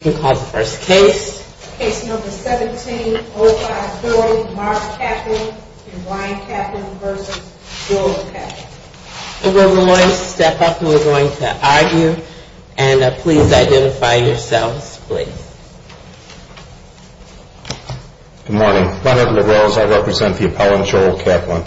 You can call the first case. Case number 17-0540, Marge Kaplan v. Brian Kaplan v. Joel Kaplan. We're going to step up and we're going to argue and please identify yourselves please. Good morning. Brian Edward Wells, I represent the appellant Joel Kaplan.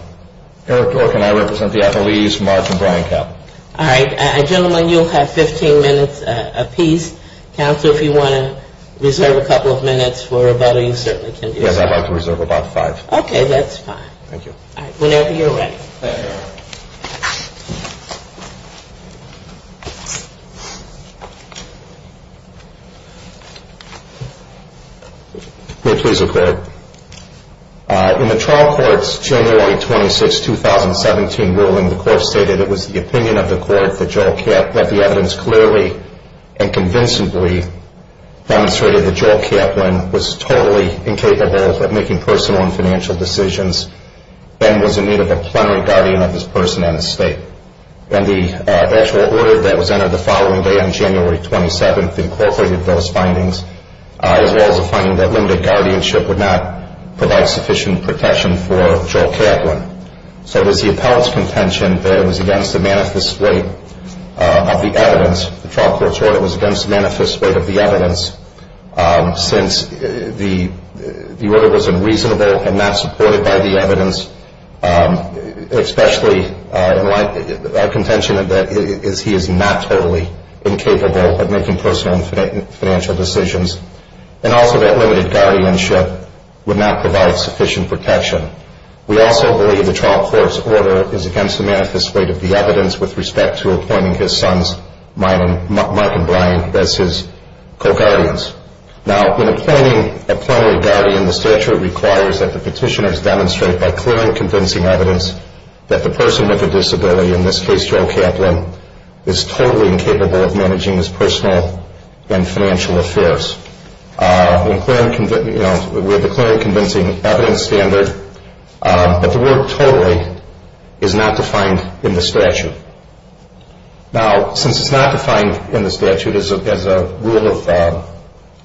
Eric Dworkin, I represent the athletes Marge and Brian Kaplan. All right. Gentlemen, you'll have 15 minutes apiece. Counsel, if you want to reserve a couple of minutes for rebuttal, you certainly can do so. Yes, I'd like to reserve about five. Okay, that's fine. Thank you. Whenever you're ready. Thank you, Your Honor. May it please the Court. In the trial court's January 26, 2017 ruling, the court stated it was the opinion of the court that Joel Kaplan, that the evidence clearly and convincingly demonstrated that Joel Kaplan was totally incapable of making personal and financial decisions and was in need of a plenary guardian of his person and estate. And the actual order that was entered the following day on January 27th incorporated those findings, as well as the finding that limited guardianship would not provide sufficient protection for Joel Kaplan. So it was the appellant's contention that it was against the manifest weight of the evidence. The trial court's order was against the manifest weight of the evidence since the order was unreasonable and not supported by the evidence, especially our contention that he is not totally incapable of making personal and financial decisions, and also that limited guardianship would not provide sufficient protection. We also believe the trial court's order is against the manifest weight of the evidence with respect to appointing his sons, Mike and Brian, as his co-guardians. Now, in appointing a plenary guardian, the statute requires that the petitioners demonstrate by clear and convincing evidence that the person with a disability, in this case Joel Kaplan, is totally incapable of managing his personal and financial affairs. With a clear and convincing evidence standard that the word totally is not defined in the statute. Now, since it's not defined in the statute as a rule of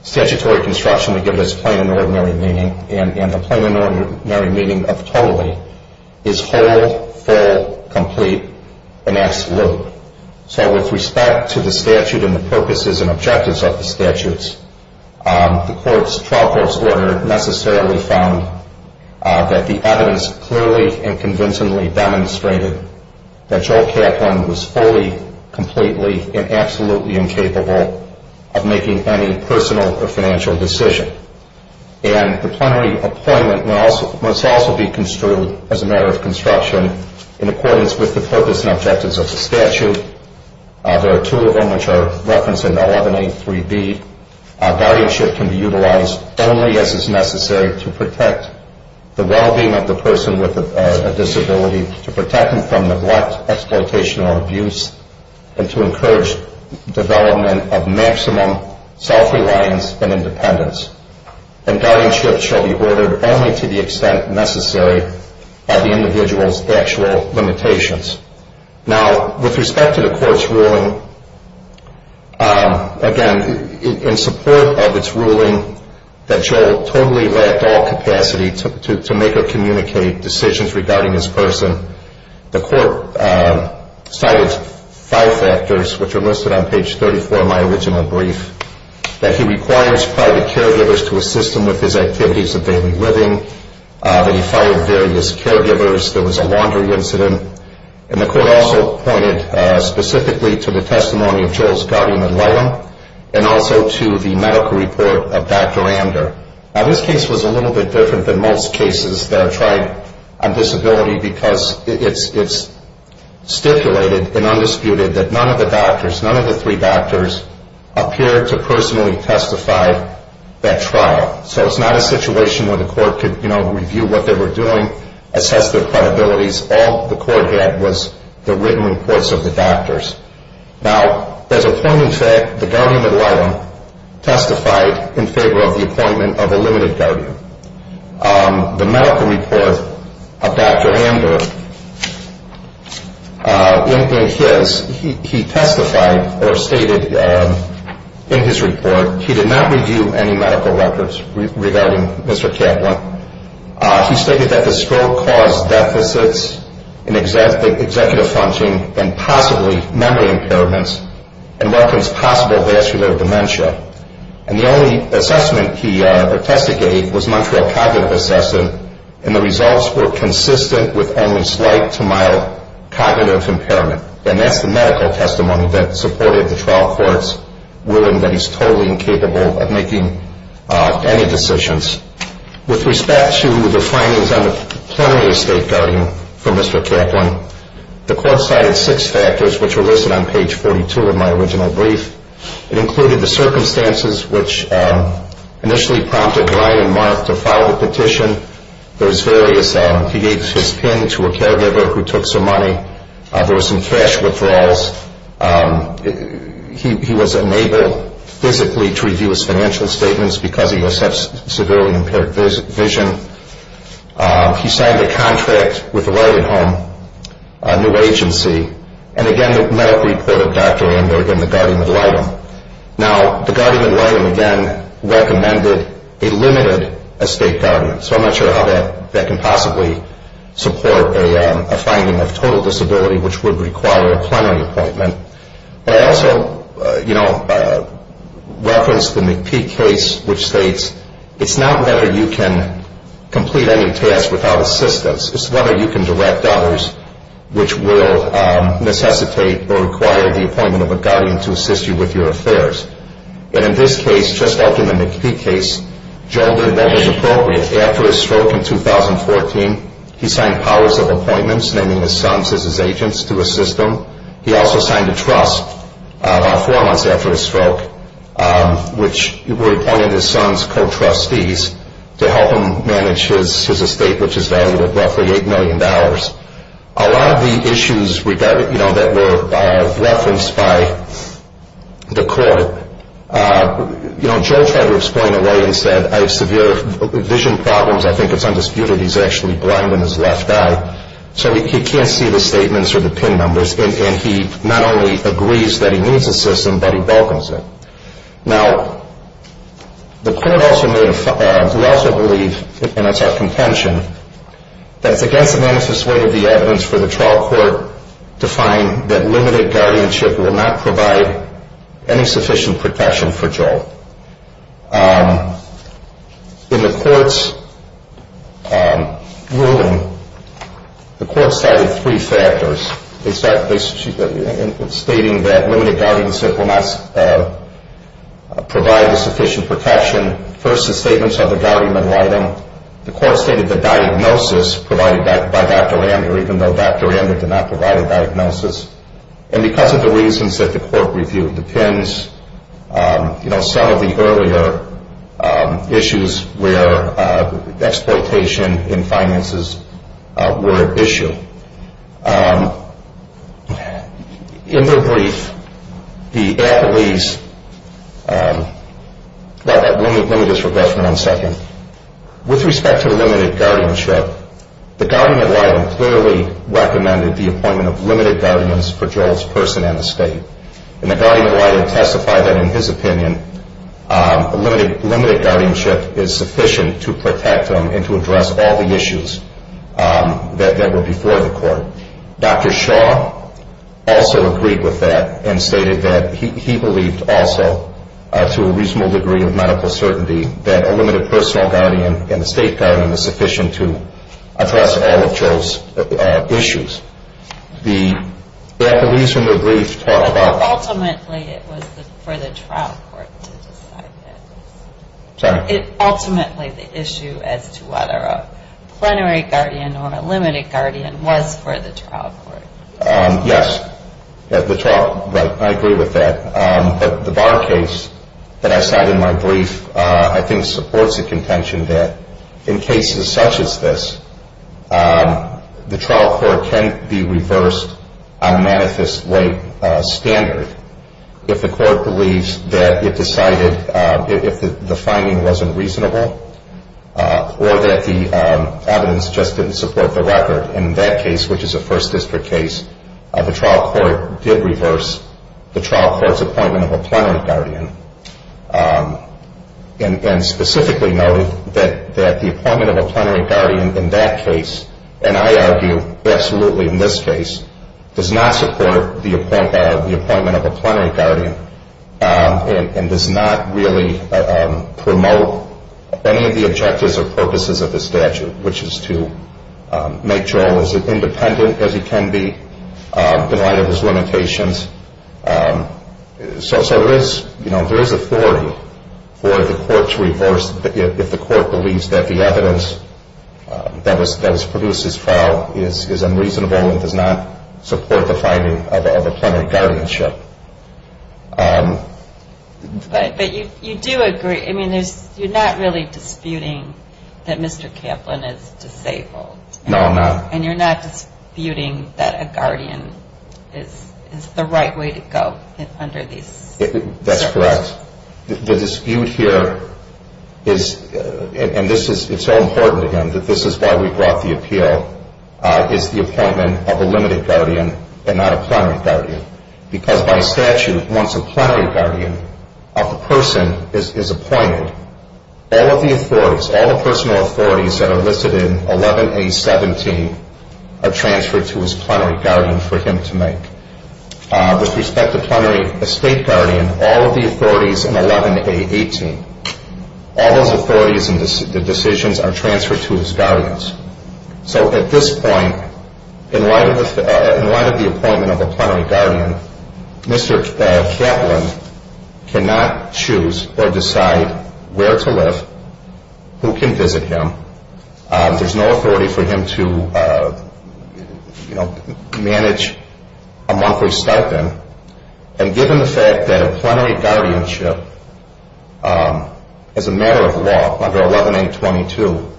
statutory construction to give us plain and ordinary meaning, and the plain and ordinary meaning of totally is whole, full, complete, and absolute. So with respect to the statute and the purposes and objectives of the statutes, the trial court's order necessarily found that the evidence clearly and convincingly demonstrated that Joel Kaplan was fully, completely, and absolutely incapable of making any personal or financial decision. And the plenary appointment must also be construed as a matter of construction in accordance with the purpose and objectives of the statute. There are two of them which are referenced in 11A.3B. Guardianship can be utilized only as is necessary to protect the well-being of the person with a disability, to protect them from neglect, exploitation, or abuse, and to encourage development of maximum self-reliance and independence. And guardianship shall be ordered only to the extent necessary by the individual's actual limitations. Now, with respect to the court's ruling, again, in support of its ruling that Joel totally lacked all capacity to make or communicate decisions regarding this person, the court cited five factors which are listed on page 34 in my original brief. That he requires private caregivers to assist him with his activities of daily living, that he fired various caregivers, there was a laundry incident, and the court also pointed specifically to the testimony of Joel's guardian and loyalty, and also to the medical report of Dr. Amder. Now, this case was a little bit different than most cases that are tried on disability because it's stipulated and undisputed that none of the doctors, none of the three doctors, appeared to personally testify at trial. So it's not a situation where the court could, you know, review what they were doing, assess their credibilities. All the court had was the written reports of the doctors. Now, there's a point in fact, the guardian of Lyla testified in favor of the appointment of a limited guardian. The medical report of Dr. Amder, in his, he testified or stated in his report, he did not review any medical records regarding Mr. Kaplan. He stated that the stroke caused deficits in executive functioning and possibly memory impairments and referenced possible vascular dementia. And the only assessment he investigated was not for a cognitive assessment, and the results were consistent with only slight to mild cognitive impairment. And that's the medical testimony that supported the trial courts, ruling that he's totally incapable of making any decisions. With respect to the findings on the plenary state guardian for Mr. Kaplan, the court cited six factors which were listed on page 42 of my original brief. It included the circumstances which initially prompted Ryan and Mark to file the petition. There's various, he gave his pin to a caregiver who took some money. There were some cash withdrawals. He was unable physically to review his financial statements because he has such severely impaired vision. He signed a contract with the Lyla Home, a new agency. And again, the medical report of Dr. Amder and the guardian of Lyla. Now, the guardian of Lyla, again, recommended a limited estate guardian. So I'm not sure how that can possibly support a finding of total disability, which would require a plenary appointment. I also referenced the McPee case, which states it's not whether you can complete any task without assistance. It's whether you can direct dollars which will necessitate or require the appointment of a guardian to assist you with your affairs. And in this case, just like in the McPee case, Joe did what was appropriate. After his stroke in 2014, he signed powers of appointments, naming his sons as his agents to assist him. He also signed a trust about four months after his stroke, which appointed his sons co-trustees to help him manage his estate, which is valued at roughly $8 million. A lot of the issues, you know, that were referenced by the court, you know, Joe tried to explain away and said, I have severe vision problems. I think it's undisputed he's actually blind in his left eye. So he can't see the statements or the PIN numbers. And he not only agrees that he needs assistance, but he welcomes it. Now, the court also made a, who also believed, and that's our contention, that it's against the manifest way of the evidence for the trial court to find that limited guardianship will not provide any sufficient protection for Joe. In the court's ruling, the court cited three factors. They start by stating that limited guardianship will not provide the sufficient protection. First, the statements of the guardian in writing. The court stated the diagnosis provided by Dr. Andrew, even though Dr. Andrew did not provide a diagnosis. And because of the reasons that the court reviewed, the PINs, you know, some of the earlier issues where exploitation in finances were at issue. In their brief, the appellees, let me just regress for one second. With respect to the limited guardianship, the guardian in writing clearly recommended the appointment of limited guardians for Joel's person in the state. And the guardian in writing testified that in his opinion, limited guardianship is sufficient to protect him and to address all the issues that were before the court. Dr. Shaw also agreed with that and stated that he believed also to a reasonable degree of medical certainty that a limited personal guardian and a state guardian is sufficient to address all of Joel's issues. The appellees in their brief talked about- Sorry. Ultimately, the issue as to whether a plenary guardian or a limited guardian was for the trial court. Yes. The trial, right. I agree with that. But the Barr case that I cited in my brief, I think supports the contention that in cases such as this, the trial court can be reversed on a manifest late standard if the court believes that it decided- if the finding wasn't reasonable or that the evidence just didn't support the record. In that case, which is a first district case, the trial court did reverse the trial court's appointment of a plenary guardian. And specifically noted that the appointment of a plenary guardian in that case, and I argue absolutely in this case, does not support the appointment of a plenary guardian and does not really promote any of the objectives or purposes of the statute, which is to make Joel as independent as he can be in light of his limitations. So there is authority for the court to reverse if the court believes that the evidence that was produced in this trial is unreasonable and does not support the finding of a plenary guardianship. But you do agree- I mean, you're not really disputing that Mr. Kaplan is disabled. No, I'm not. And you're not disputing that a guardian is the right way to go under these circumstances. That's correct. The dispute here is- and this is so important to him that this is why we brought the appeal- is the appointment of a limited guardian and not a plenary guardian. Because by statute, once a plenary guardian of a person is appointed, all of the authorities, all the personal authorities that are listed in 11A17 are transferred to his plenary guardian for him to make. With respect to plenary estate guardian, all of the authorities in 11A18, all those authorities and the decisions are transferred to his guardians. So at this point, in light of the appointment of a plenary guardian, Mr. Kaplan cannot choose or decide where to live, who can visit him. There's no authority for him to, you know, manage a monthly stipend. And given the fact that a plenary guardianship as a matter of law under 11A22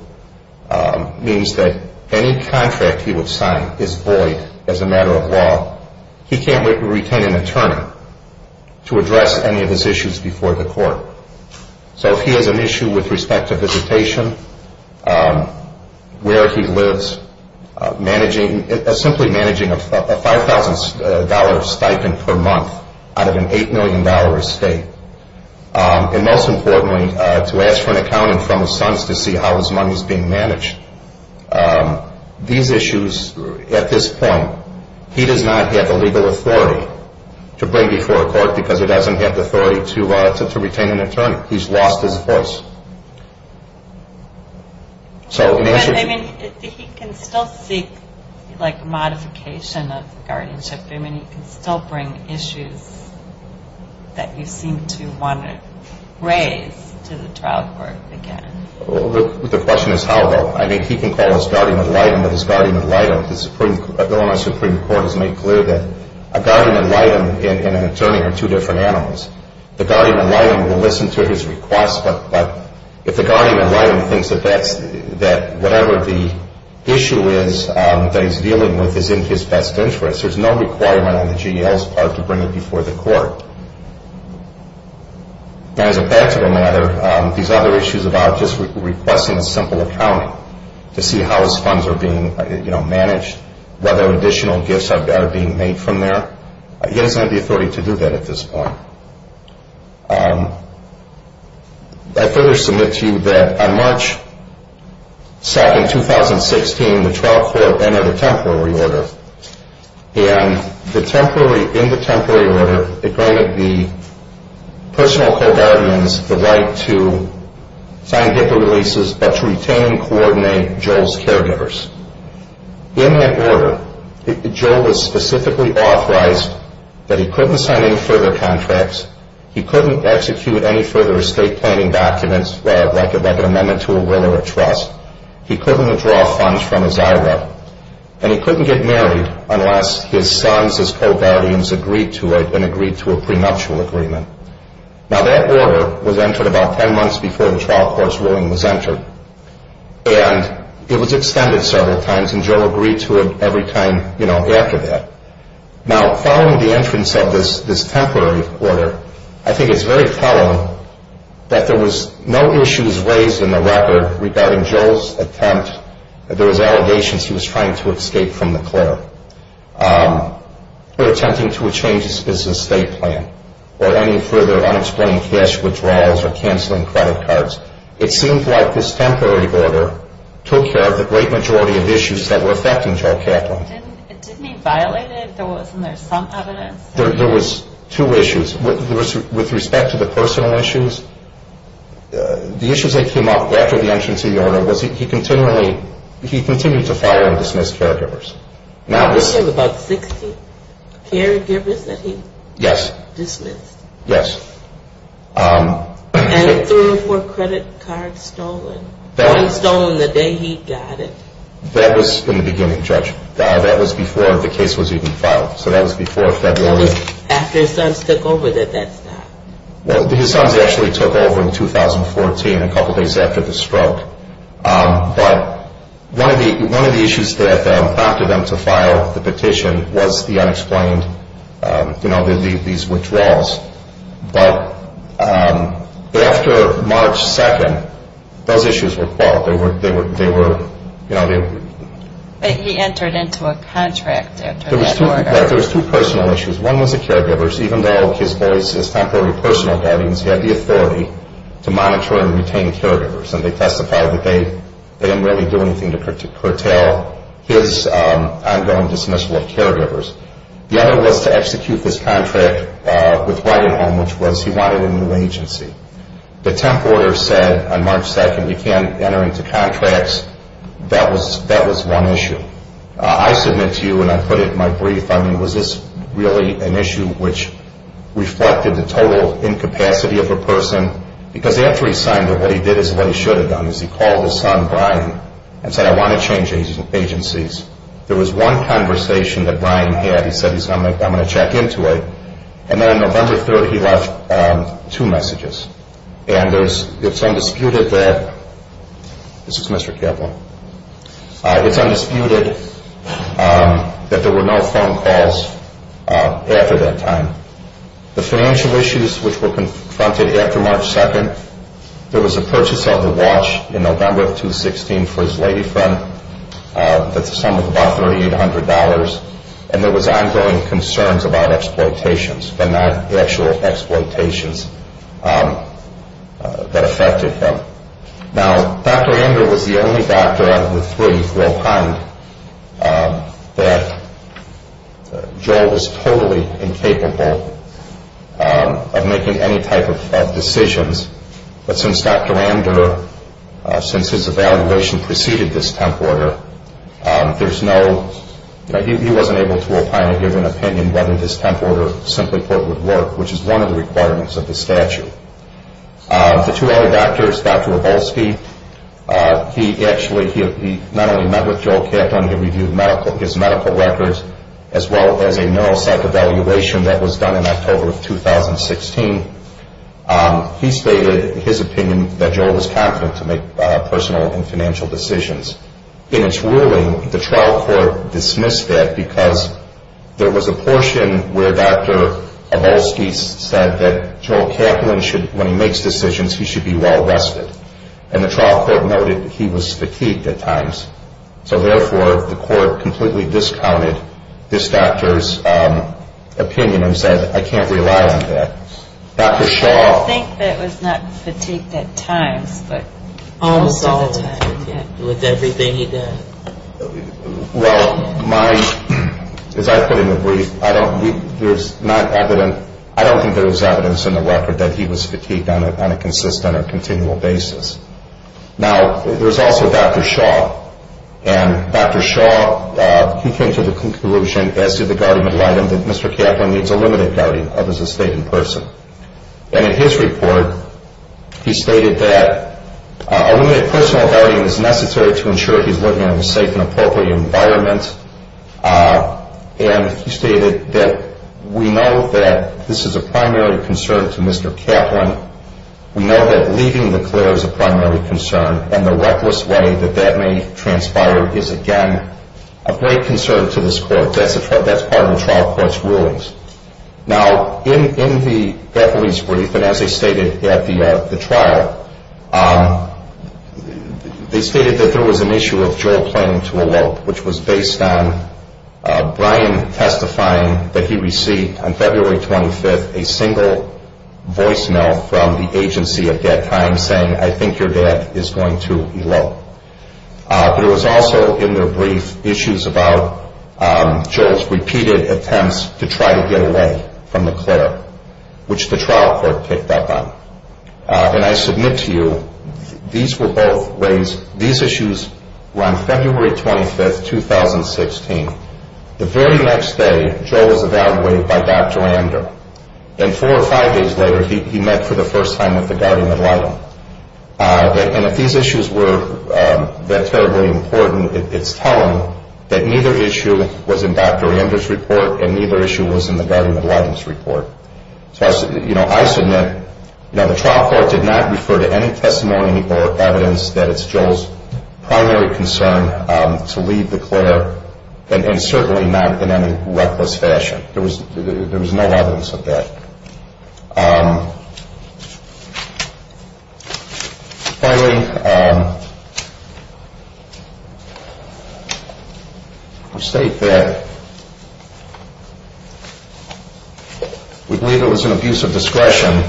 means that any contract he would sign is void as a matter of law, he can't retain an attorney to address any of his issues before the court. So if he has an issue with respect to visitation, where he lives, simply managing a $5,000 stipend per month out of an $8 million estate, and most importantly, to ask for an accountant from his sons to see how his money is being managed, these issues, at this point, he does not have the legal authority to bring before a court because he doesn't have the authority to retain an attorney. He's lost his voice. So in the issue... I mean, he can still seek, like, modification of guardianship. I mean, he can still bring issues that you seem to want to raise to the trial court again. The question is how, though. I mean, he can call his guardian ad litem, but his guardian ad litem, the Illinois Supreme Court has made clear that a guardian ad litem and an attorney are two different animals. The guardian ad litem will listen to his requests, but if the guardian ad litem thinks that whatever the issue is that he's dealing with is in his best interest, there's no requirement on the GL's part to bring it before the court. Now, as a practical matter, these other issues about just requesting a simple accountant to see how his funds are being managed, whether additional gifts are being made from there, he doesn't have the authority to do that at this point. I further submit to you that on March 2nd, 2016, the trial court entered a temporary order, and in the temporary order, it granted the personal co-guardians the right to sign HIPAA releases, but to retain and coordinate Joel's caregivers. In that order, Joel was specifically authorized that he couldn't sign any further contracts, he couldn't execute any further estate planning documents, like an amendment to a will or a trust, he couldn't withdraw funds from his IRA, and he couldn't get married unless his sons as co-guardians agreed to it and agreed to a prenuptial agreement. Now, that order was entered about 10 months before the trial court's ruling was entered, and it was extended several times, and Joel agreed to it every time, you know, after that. Now, following the entrance of this temporary order, I think it's very telling that there was no issues raised in the record regarding Joel's attempt, there was allegations he was trying to escape from the clerk, or attempting to change his business estate plan, or any further unexplained cash withdrawals or canceling credit cards. It seems like this temporary order took care of the great majority of issues that were affecting Joel Kaplan. It didn't mean violated? There wasn't some evidence? There was two issues. With respect to the personal issues, the issues that came up after the entrance of the order was he continually, he continued to file and dismiss caregivers. You said about 60 caregivers that he dismissed? Yes. And three or four credit cards stolen. One stolen the day he got it. That was in the beginning, Judge. That was before the case was even filed, so that was before February. That was after his sons took over that that stopped. Well, his sons actually took over in 2014, a couple days after the stroke. But one of the issues that prompted them to file the petition was the unexplained, you know, these withdrawals. But after March 2nd, those issues were called. They were, you know... He entered into a contract after that order. There was two personal issues. One was the caregivers, even though his voice is temporary personal guardians, he had the authority to monitor and retain caregivers. And they testified that they didn't really do anything to curtail his ongoing dismissal of caregivers. The other was to execute this contract with writing home, which was he wanted a new agency. The temp order said on March 2nd, you can't enter into contracts. That was one issue. I submit to you, and I put it in my brief, I mean, was this really an issue which reflected the total incapacity of a person? Because after he signed it, what he did is what he should have done, is he called his son, Brian, and said, I want to change agencies. There was one conversation that Brian had. He said, I'm going to check into it. And then on November 3rd, he left two messages. And it's undisputed that, this is Mr. Kevlin, it's undisputed that there were no phone calls after that time. The financial issues which were confronted after March 2nd, there was a purchase of a watch in November of 2016 for his lady friend. That's the sum of about $3,800. And there was ongoing concerns about exploitations, but not actual exploitations. That affected him. Now, Dr. Ander was the only doctor out of the three who opined that Joel was totally incapable of making any type of decisions. But since Dr. Ander, since his evaluation preceded this temp order, there's no, he wasn't able to opine or give an opinion whether his temp order simply put would work, which is one of the requirements of the statute. The two other doctors, Dr. Wroblewski, he actually, he not only met with Joel Kaplan, he reviewed his medical records, as well as a neuropsych evaluation that was done in October of 2016. He stated his opinion that Joel was competent to make personal and financial decisions. In its ruling, the trial court dismissed that because there was a portion where Dr. Wroblewski said that Joel Kaplan should, when he makes decisions, he should be well rested. And the trial court noted he was fatigued at times. So therefore, the court completely discounted this doctor's opinion and said, I can't rely on that. Dr. Shaw. I think that was not fatigued at times, but most of the time. Well, my, as I put in the brief, I don't think there's evidence in the record that he was fatigued on a consistent or continual basis. Now, there's also Dr. Shaw, and Dr. Shaw, he came to the conclusion, as did the guardian of the item, that Mr. Kaplan needs a limited guardian of his estate in person. And in his report, he stated that a limited personal guardian is necessary to ensure he's living in a safe and appropriate environment. And he stated that we know that this is a primary concern to Mr. Kaplan. We know that leaving the clear is a primary concern, and the reckless way that that may transpire is, again, a great concern to this court. That's part of the trial court's rulings. Now, in the death release brief, and as they stated at the trial, they stated that there was an issue of Joel playing to a lope, which was based on Brian testifying that he received, on February 25th, a single voicemail from the agency at that time saying, I think your dad is going to elope. There was also, in their brief, issues about Joel's repeated attempts to try to get away from the clear, which the trial court picked up on. And I submit to you, these were both raised, these issues were on February 25th, 2016. The very next day, Joel was evaluated by Dr. Ander. And four or five days later, he met for the first time with the guardian of the item. And if these issues were that terribly important, it's telling that neither issue was in Dr. Ander's report, and neither issue was in the guardian of the item's report. So I submit, the trial court did not refer to any testimony or evidence that it's Joel's primary concern to leave the clear, and certainly not in any reckless fashion. There was no evidence of that. Finally, we state that we believe it was an abuse of discretion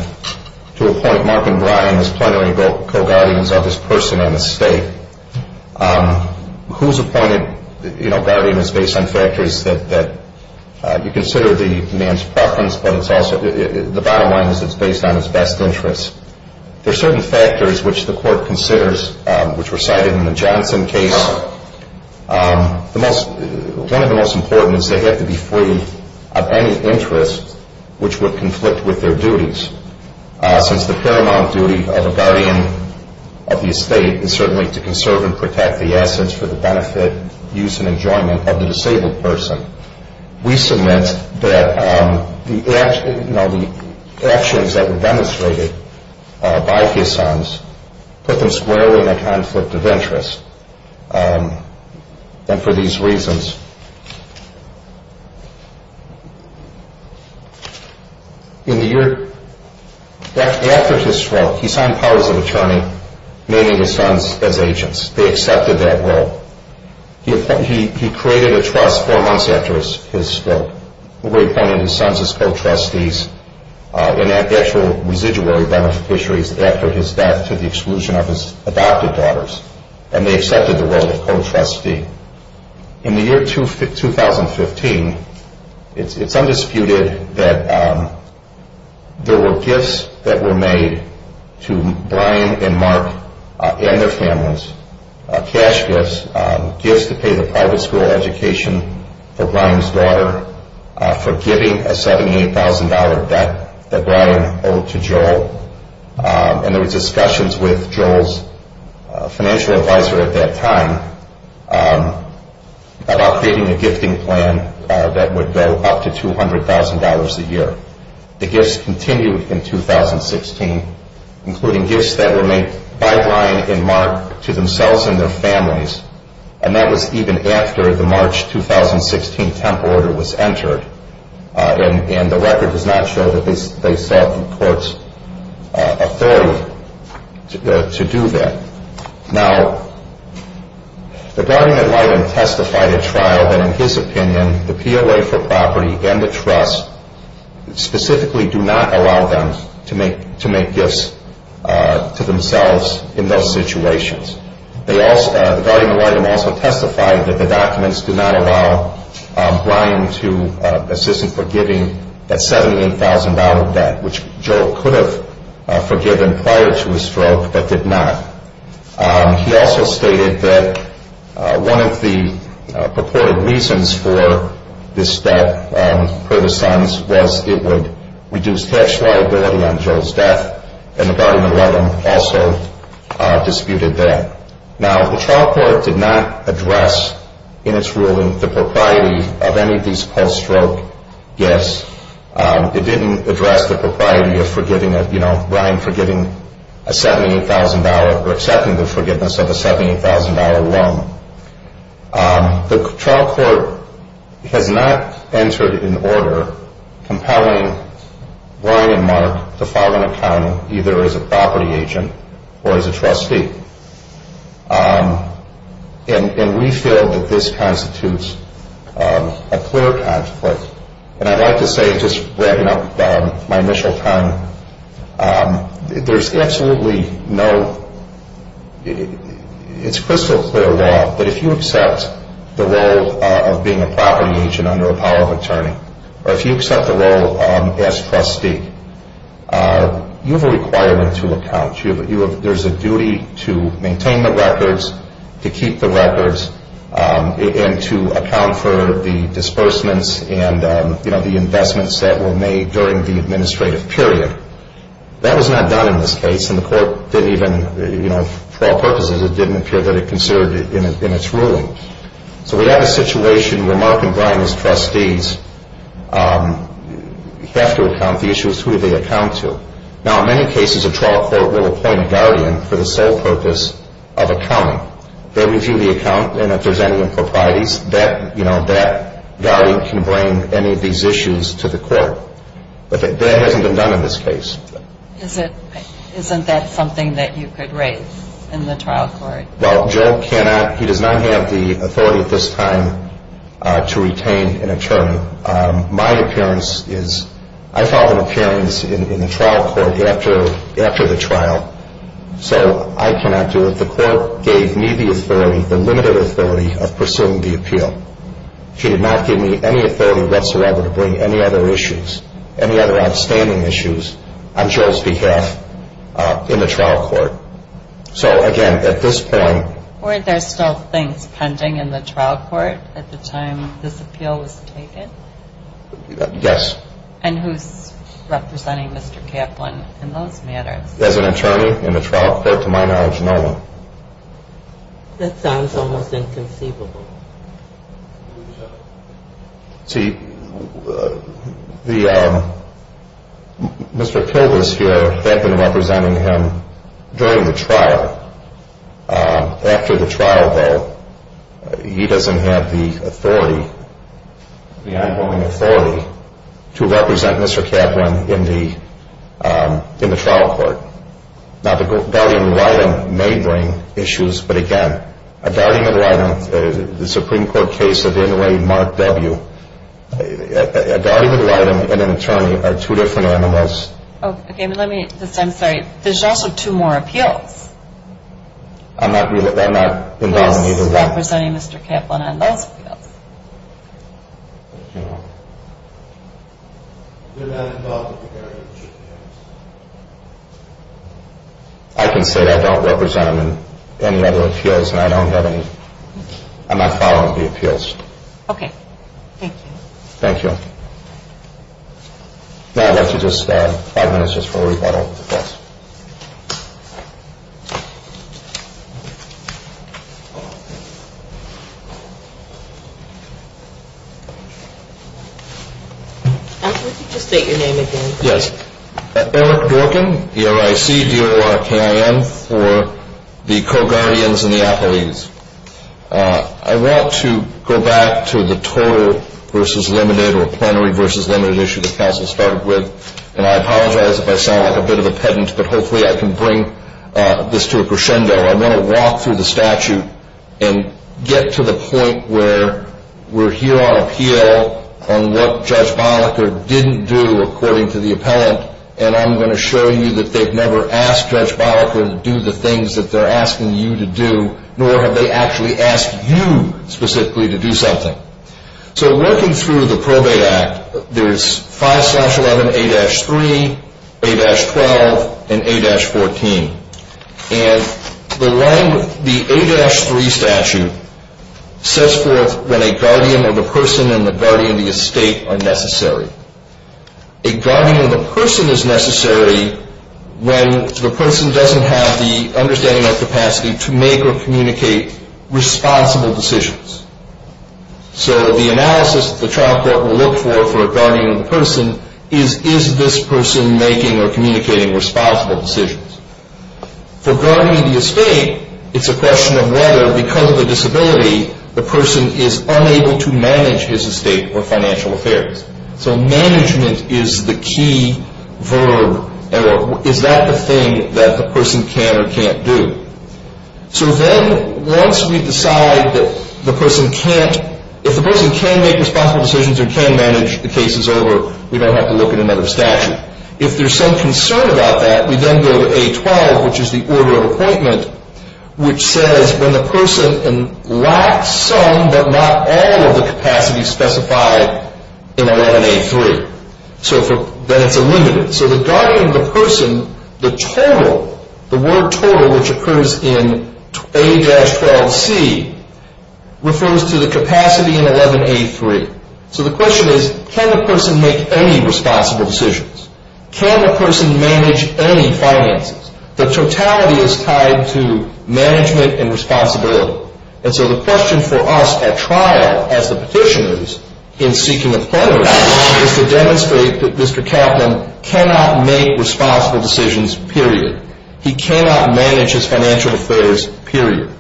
to appoint Mark and Brian as plenary co-guardians of this person and this state. Who's appointed guardian is based on factors that you consider the man's preference, but it's also, the bottom line is it's based on his best interests. There are certain factors which the court considers, which were cited in the Johnson case. One of the most important is they have to be free of any interest which would conflict with their duties. Since the paramount duty of a guardian of the estate is certainly to conserve and protect the assets for the benefit, use, and enjoyment of the disabled person. We submit that the actions that were demonstrated by his sons put them squarely in a conflict of interest. And for these reasons, in the year after his trial, he signed powers of attorney, naming his sons as agents. They accepted that role. He created a trust four months after his spoke, where he appointed his sons as co-trustees in actual residual beneficiaries after his death to the exclusion of his adopted daughters. And they accepted the role of co-trustee. In the year 2015, it's undisputed that there were gifts that were made to Brian and Mark and their families. Cash gifts, gifts to pay the private school education for Brian's daughter, for giving a $78,000 debt that Brian owed to Joel. And there were discussions with Joel's financial advisor at that time about creating a gifting plan that would go up to $200,000 a year. The gifts continued in 2016, including gifts that were made by Brian and Mark to themselves and their families. And that was even after the March 2016 temp order was entered. And the record does not show that they sought the court's authority to do that. Now, the guardian-admin testified at trial that in his opinion, the POA for property and the trust specifically do not allow them to make gifts to themselves in those situations. The guardian-admin also testified that the documents do not allow Brian to assist in forgiving that $78,000 debt, which Joel could have forgiven prior to his stroke, but did not. He also stated that one of the purported reasons for this debt per the Sons was it would reduce tax liability on Joel's death. And the guardian-admin also disputed that. Now, the trial court did not address in its ruling the propriety of any of these post-stroke gifts. It didn't address the propriety of Brian forgiving a $78,000 or accepting the forgiveness of a $78,000 loan. The trial court has not entered an order compelling Brian and Mark to file an accounting either as a property agent or as a trustee. And we feel that this constitutes a clear conflict. And I'd like to say, just wrapping up my initial comment, there's absolutely no, it's crystal clear law that if you accept the role of being a property agent under a POA attorney, or if you accept the role as trustee, you have a requirement to account. There's a duty to maintain the records, to keep the records, and to account for the disbursements and the investments that were made during the administrative period. That was not done in this case, and the court didn't even, for all purposes, it didn't appear that it considered it in its ruling. So we have a situation where Mark and Brian, as trustees, have to account. The issue is who do they account to? Now, in many cases, a trial court will appoint a guardian for the sole purpose of accounting. They review the account, and if there's any improprieties, that guardian can bring any of these issues to the court. But that hasn't been done in this case. Isn't that something that you could raise in the trial court? Well, Joe cannot, he does not have the authority at this time to retain an attorney. My appearance is, I filed an appearance in the trial court after the trial, so I cannot do it. The court gave me the authority, the limited authority, of pursuing the appeal. She did not give me any authority whatsoever to bring any other issues, any other outstanding issues, on Joe's behalf in the trial court. So, again, at this point... Were there still things pending in the trial court at the time this appeal was taken? Yes. And who's representing Mr. Kaplan in those matters? As an attorney in the trial court, to my knowledge, no one. That sounds almost inconceivable. See, Mr. Kilgus here had been representing him during the trial. After the trial, though, he doesn't have the authority, the on-going authority, to represent Mr. Kaplan in the trial court. Now, the guardian ad litem may bring issues, but again, a guardian ad litem, the Supreme Court case of Inouye Mark W., a guardian ad litem and an attorney are two different animals. Okay, but let me, I'm sorry, there's also two more appeals. I'm not really, I'm not involved in either one. Who's representing Mr. Kaplan on those appeals? I don't know. You're not involved with the guardianship case? I can say that I don't represent him in any other appeals, and I don't have any, I'm not following the appeals. Okay, thank you. Thank you. Now I'd like to just, five minutes just for a rebuttal. I'll let you just state your name again. Yes, Eric Dorkin, E-R-I-C-D-O-R-K-I-N, for the co-guardians and the appellees. I want to go back to the total versus limited or plenary versus limited issue that counsel started with, and I apologize if I sound like a bit of a pedant, but hopefully I can bring this to a crescendo. I'm going to walk through the statute and get to the point where we're here on appeal on what Judge Bolliker didn't do according to the appellant, and I'm going to show you that they've never asked Judge Bolliker to do the things that they're asking you to do, nor have they actually asked you specifically to do something. So working through the Probate Act, there's 5-11A-3, A-12, and A-14. And the line with the A-3 statute sets forth when a guardian or the person and the guardian of the estate are necessary. A guardian of the person is necessary when the person doesn't have the understanding or capacity to make or communicate responsible decisions. So the analysis that the trial court will look for for a guardian or the person is, is this person making or communicating responsible decisions? For a guardian of the estate, it's a question of whether, because of the disability, the person is unable to manage his estate or financial affairs. So management is the key verb, or is that the thing that the person can or can't do? So then once we decide that the person can't, if the person can make responsible decisions or can manage the cases over, we don't have to look at another statute. If there's some concern about that, we then go to A-12, which is the order of appointment, which says when the person lacks some but not all of the capacity specified in 11A-3. So then it's a limit. So the guardian of the person, the total, the word total, which occurs in A-12C, refers to the capacity in 11A-3. So the question is, can the person make any responsible decisions? Can the person manage any finances? The totality is tied to management and responsibility. And so the question for us at trial, as the petitioners, in seeking a plaintiff, is to demonstrate that Mr. Kaplan cannot make responsible decisions, period. He cannot manage his financial affairs, period.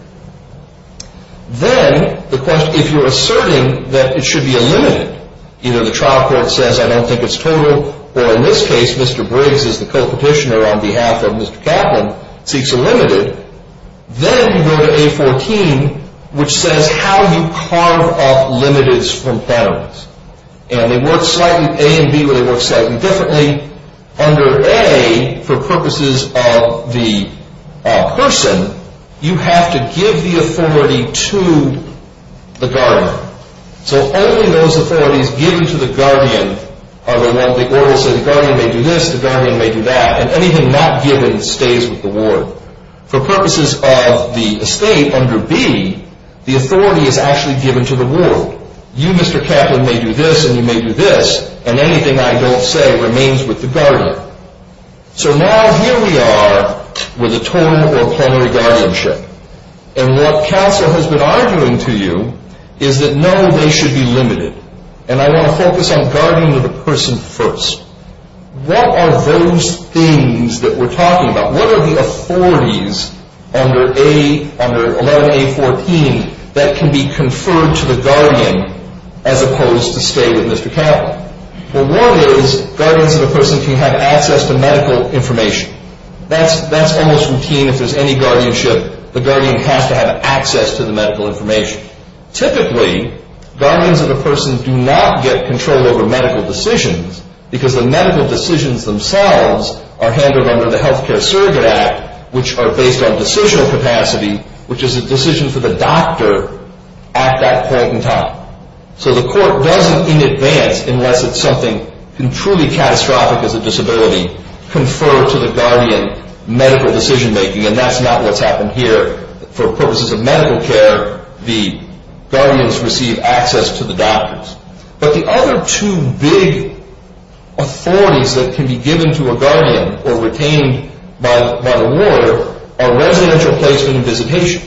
Then the question, if you're asserting that it should be a limited, either the trial court says, I don't think it's total, or in this case, Mr. Briggs is the co-petitioner on behalf of Mr. Kaplan, seeks a limited, then you go to A-14, which says how you carve up limiteds from penalties. And they work slightly, A and B, where they work slightly differently. Under A, for purposes of the person, you have to give the authority to the guardian. So only those authorities given to the guardian are the ones, the order will say the guardian may do this, the guardian may do that, and anything not given stays with the ward. For purposes of the estate, under B, the authority is actually given to the ward. You, Mr. Kaplan, may do this, and you may do this, and anything I don't say remains with the guardian. So now here we are with a torn or plenary guardianship. And what counsel has been arguing to you is that no, they should be limited. And I want to focus on guardian of the person first. What are those things that we're talking about? What are the authorities under 11-A-14 that can be conferred to the guardian as opposed to stay with Mr. Kaplan? Well, one is guardians of the person can have access to medical information. That's almost routine if there's any guardianship. The guardian has to have access to the medical information. Typically, guardians of the person do not get control over medical decisions because the medical decisions themselves are handled under the Healthcare Surrogate Act, which are based on decisional capacity, which is a decision for the doctor at that point in time. So the court doesn't, in advance, unless it's something truly catastrophic as a disability, confer to the guardian medical decision-making. And that's not what's happened here. For purposes of medical care, the guardians receive access to the doctors. But the other two big authorities that can be given to a guardian or retained by the lawyer are residential placement and visitation.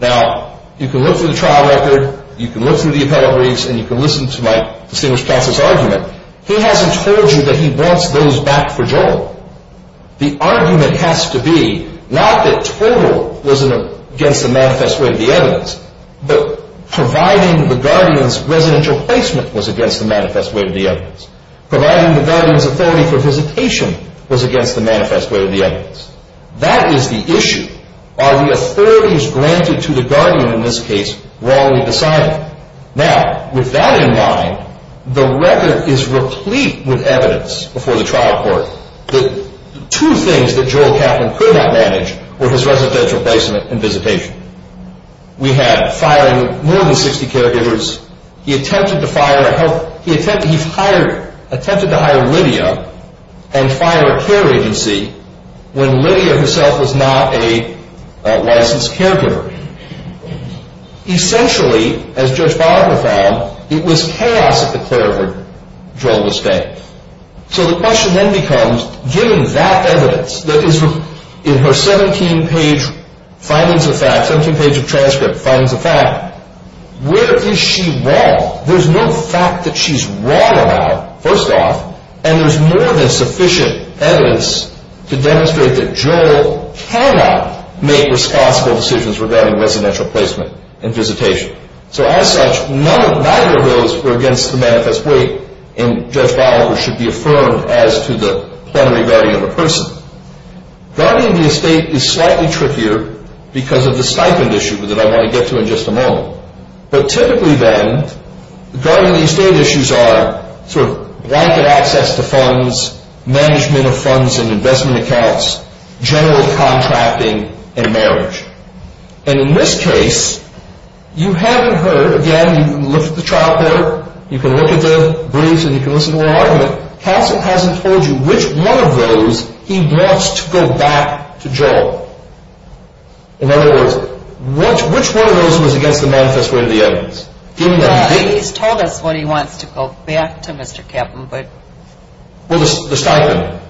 Now, you can look through the trial record, you can look through the appellate briefs, and you can listen to my distinguished counsel's argument. He hasn't told you that he wants those back for Joel. The argument has to be not that total wasn't against the manifest way of the evidence, but providing the guardian's residential placement was against the manifest way of the evidence. Providing the guardian's authority for visitation was against the manifest way of the evidence. That is the issue. Are the authorities granted to the guardian in this case wrongly decided? Now, with that in mind, the record is replete with evidence before the trial court. The two things that Joel Kaplan could not manage were his residential placement and visitation. We had firing more than 60 caregivers. He attempted to hire Lydia and fire a care agency when Lydia herself was not a licensed caregiver. Essentially, as Judge Barber found, it was chaos at the clerk where Joel was staying. So the question then becomes, given that evidence that is in her 17-page findings of fact, 17-page transcript findings of fact, where is she wrong? There's no fact that she's wrong about, first off, and there's more than sufficient evidence to demonstrate that Joel cannot make responsible decisions regarding residential placement and visitation. So as such, neither of those were against the manifest way, and Judge Barber should be affirmed as to the plenary value of a person. Guarding the estate is slightly trickier because of the stipend issue that I'm going to get to in just a moment. But typically then, guarding the estate issues are sort of blanket access to funds, management of funds and investment accounts, general contracting, and marriage. And in this case, you haven't heard, again, you can look at the trial paper, you can look at the briefs and you can listen to our argument. Counsel hasn't told you which one of those he wants to go back to Joel. In other words, which one of those was against the manifest way of the evidence? He's told us what he wants to go back to Mr. Kepham, but... Well, the stipend.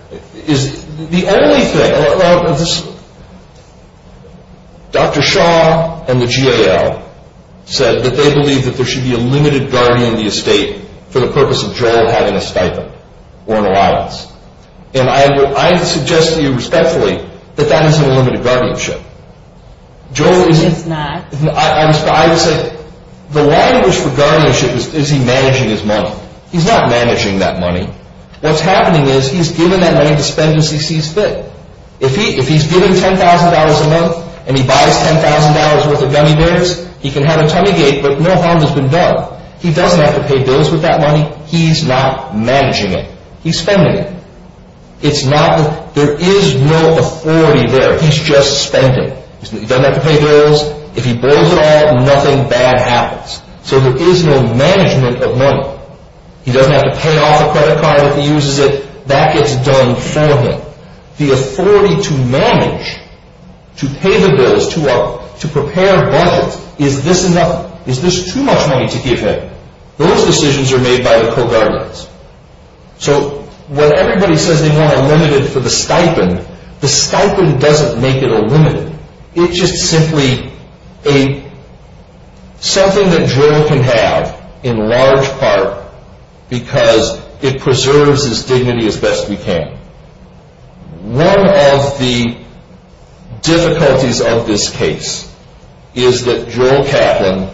The only thing... Dr. Shaw and the GAL said that they believe that there should be a limited guarding of the estate for the purpose of Joel having a stipend or an allowance. And I would suggest to you respectfully that that isn't a limited guardianship. Joel isn't. It's not. I would say the language for guardianship is, is he managing his money? He's not managing that money. What's happening is he's given that money to spend as he sees fit. If he's given $10,000 a month and he buys $10,000 worth of gummy bears, he can have a tummy gate but no harm has been done. He doesn't have to pay bills with that money. He's not managing it. He's spending it. It's not... There is no authority there. He's just spending. He doesn't have to pay bills. If he blows it all, nothing bad happens. So there is no management of money. He doesn't have to pay off a credit card if he uses it. That gets done for him. The authority to manage, to pay the bills, to prepare budgets, is this enough? Is this too much money to give him? Those decisions are made by the co-guardians. So when everybody says they want a limited for the stipend, the stipend doesn't make it a limited. It's just simply something that Joel can have in large part because it preserves his dignity as best we can. One of the difficulties of this case is that Joel Kaplan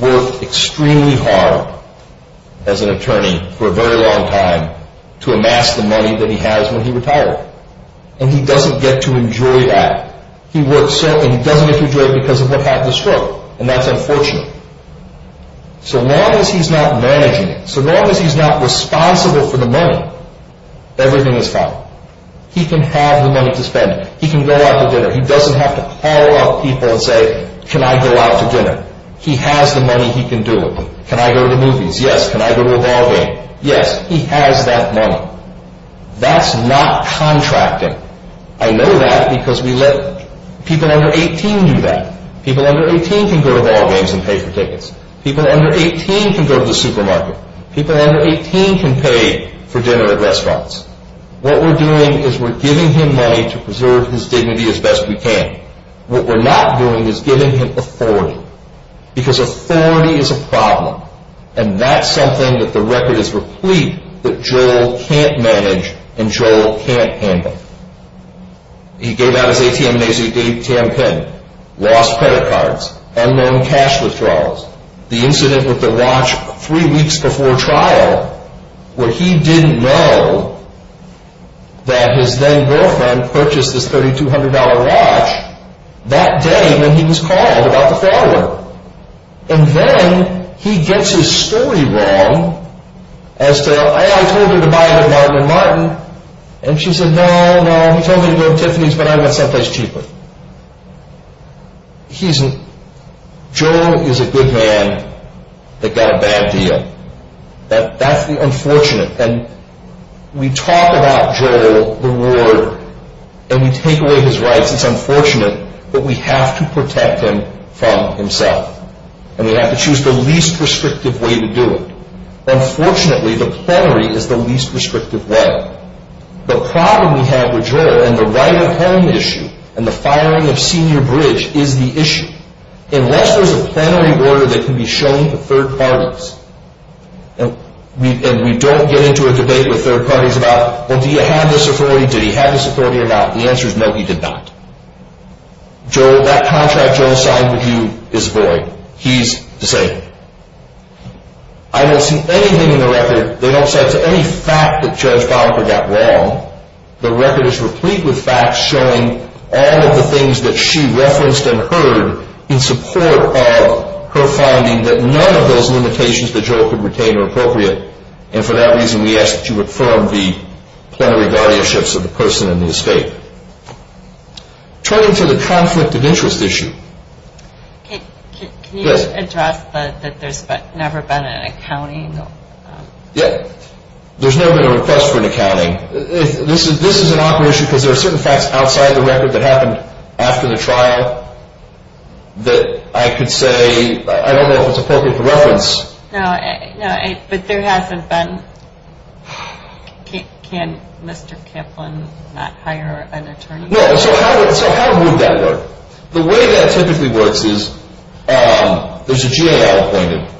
worked extremely hard as an attorney for a very long time to amass the money that he has when he retired. And he doesn't get to enjoy that. He doesn't get to enjoy it because of what happened to Stroke, and that's unfortunate. So long as he's not managing it, so long as he's not responsible for the money, everything is fine. He can have the money to spend it. He can go out to dinner. He doesn't have to call up people and say, can I go out to dinner? He has the money. He can do it. Can I go to the movies? Yes. Can I go to a ball game? Yes. He has that money. That's not contracting. I know that because we let people under 18 do that. People under 18 can go to ball games and pay for tickets. People under 18 can go to the supermarket. People under 18 can pay for dinner at restaurants. What we're doing is we're giving him money to preserve his dignity as best we can. What we're not doing is giving him authority because authority is a problem. And that's something that the record is replete that Joel can't manage and Joel can't handle. He gave out his ATM and AZTAM pin. Lost credit cards. Unknown cash withdrawals. The incident with the watch three weeks before trial where he didn't know that his then girlfriend purchased this $3,200 watch that day when he was called about the fraud alert. And then he gets his story wrong as to, I told her to buy it at Martin and Martin. And she said, no, no, he told me to go to Tiffany's but I went someplace cheaper. Joel is a good man that got a bad deal. That's the unfortunate. And we talk about Joel, the warden, and we take away his rights. It's unfortunate, but we have to protect him from himself. And we have to choose the least restrictive way to do it. Unfortunately, the plenary is the least restrictive way. The problem we have with Joel and the right of home issue and the firing of Senior Bridge is the issue. Unless there's a plenary order that can be shown to third parties. And we don't get into a debate with third parties about, well, do you have this authority? Did he have this authority or not? The answer is no, he did not. Joel, that contract Joel signed with you is void. He's the same. I don't see anything in the record, they don't cite any fact that Judge Bonhoeffer got wrong. The record is replete with facts showing all of the things that she referenced and heard in support of her finding that none of those limitations that Joel could retain are appropriate. And for that reason, we ask that you affirm the plenary guardianships of the person in the estate. Turning to the conflict of interest issue. Can you address that there's never been an accounting? Yeah, there's never been a request for an accounting. This is an awkward issue because there are certain facts outside the record that happened after the trial that I could say, I don't know if it's appropriate for reference. No, but there hasn't been. Can Mr. Kaplan not hire an attorney? No, so how would that work? The way that typically works is there's a GAL appointed.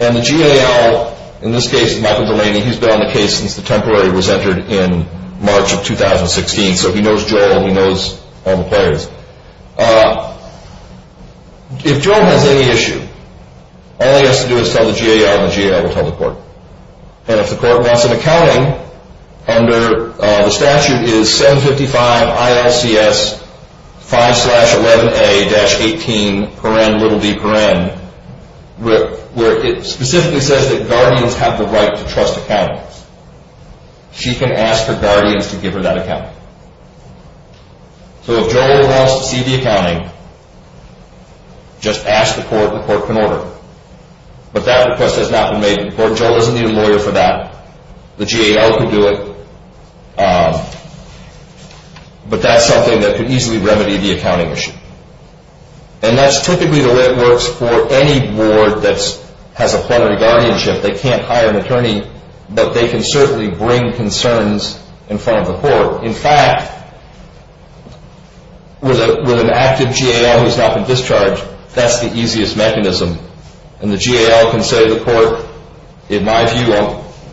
And the GAL, in this case, Michael Delaney, he's been on the case since the temporary was entered in March of 2016. So he knows Joel, he knows all the players. If Joel has any issue, all he has to do is tell the GAL and the GAL will tell the court. And if the court wants an accounting, under the statute is 755 ILCS 5-11A-18, where it specifically says that guardians have the right to trust accounting. She can ask her guardians to give her that accounting. So if Joel wants to see the accounting, just ask the court and the court can order. But that request has not been made to the court. Joel doesn't need a lawyer for that. The GAL can do it. But that's something that could easily remedy the accounting issue. And that's typically the way it works for any board that has a plenary guardianship. They can't hire an attorney, but they can certainly bring concerns in front of the court. In fact, with an active GAL who's not been discharged, that's the easiest mechanism. And the GAL can say to the court, in my view,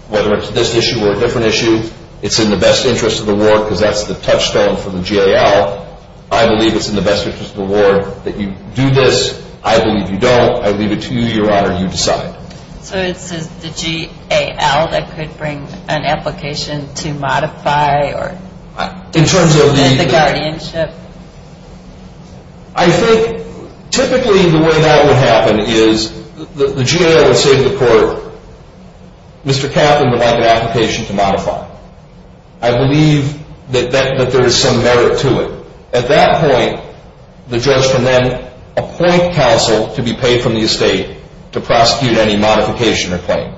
whether it's this issue or a different issue, it's in the best interest of the ward because that's the touchstone for the GAL. I believe it's in the best interest of the ward that you do this. I believe you don't. I leave it to you, Your Honor, you decide. So it's the GAL that could bring an application to modify the guardianship? I think typically the way that would happen is the GAL would say to the court, Mr. Kaplan would like an application to modify. I believe that there is some merit to it. At that point, the judge can then appoint counsel to be paid from the estate to prosecute any modification or claim.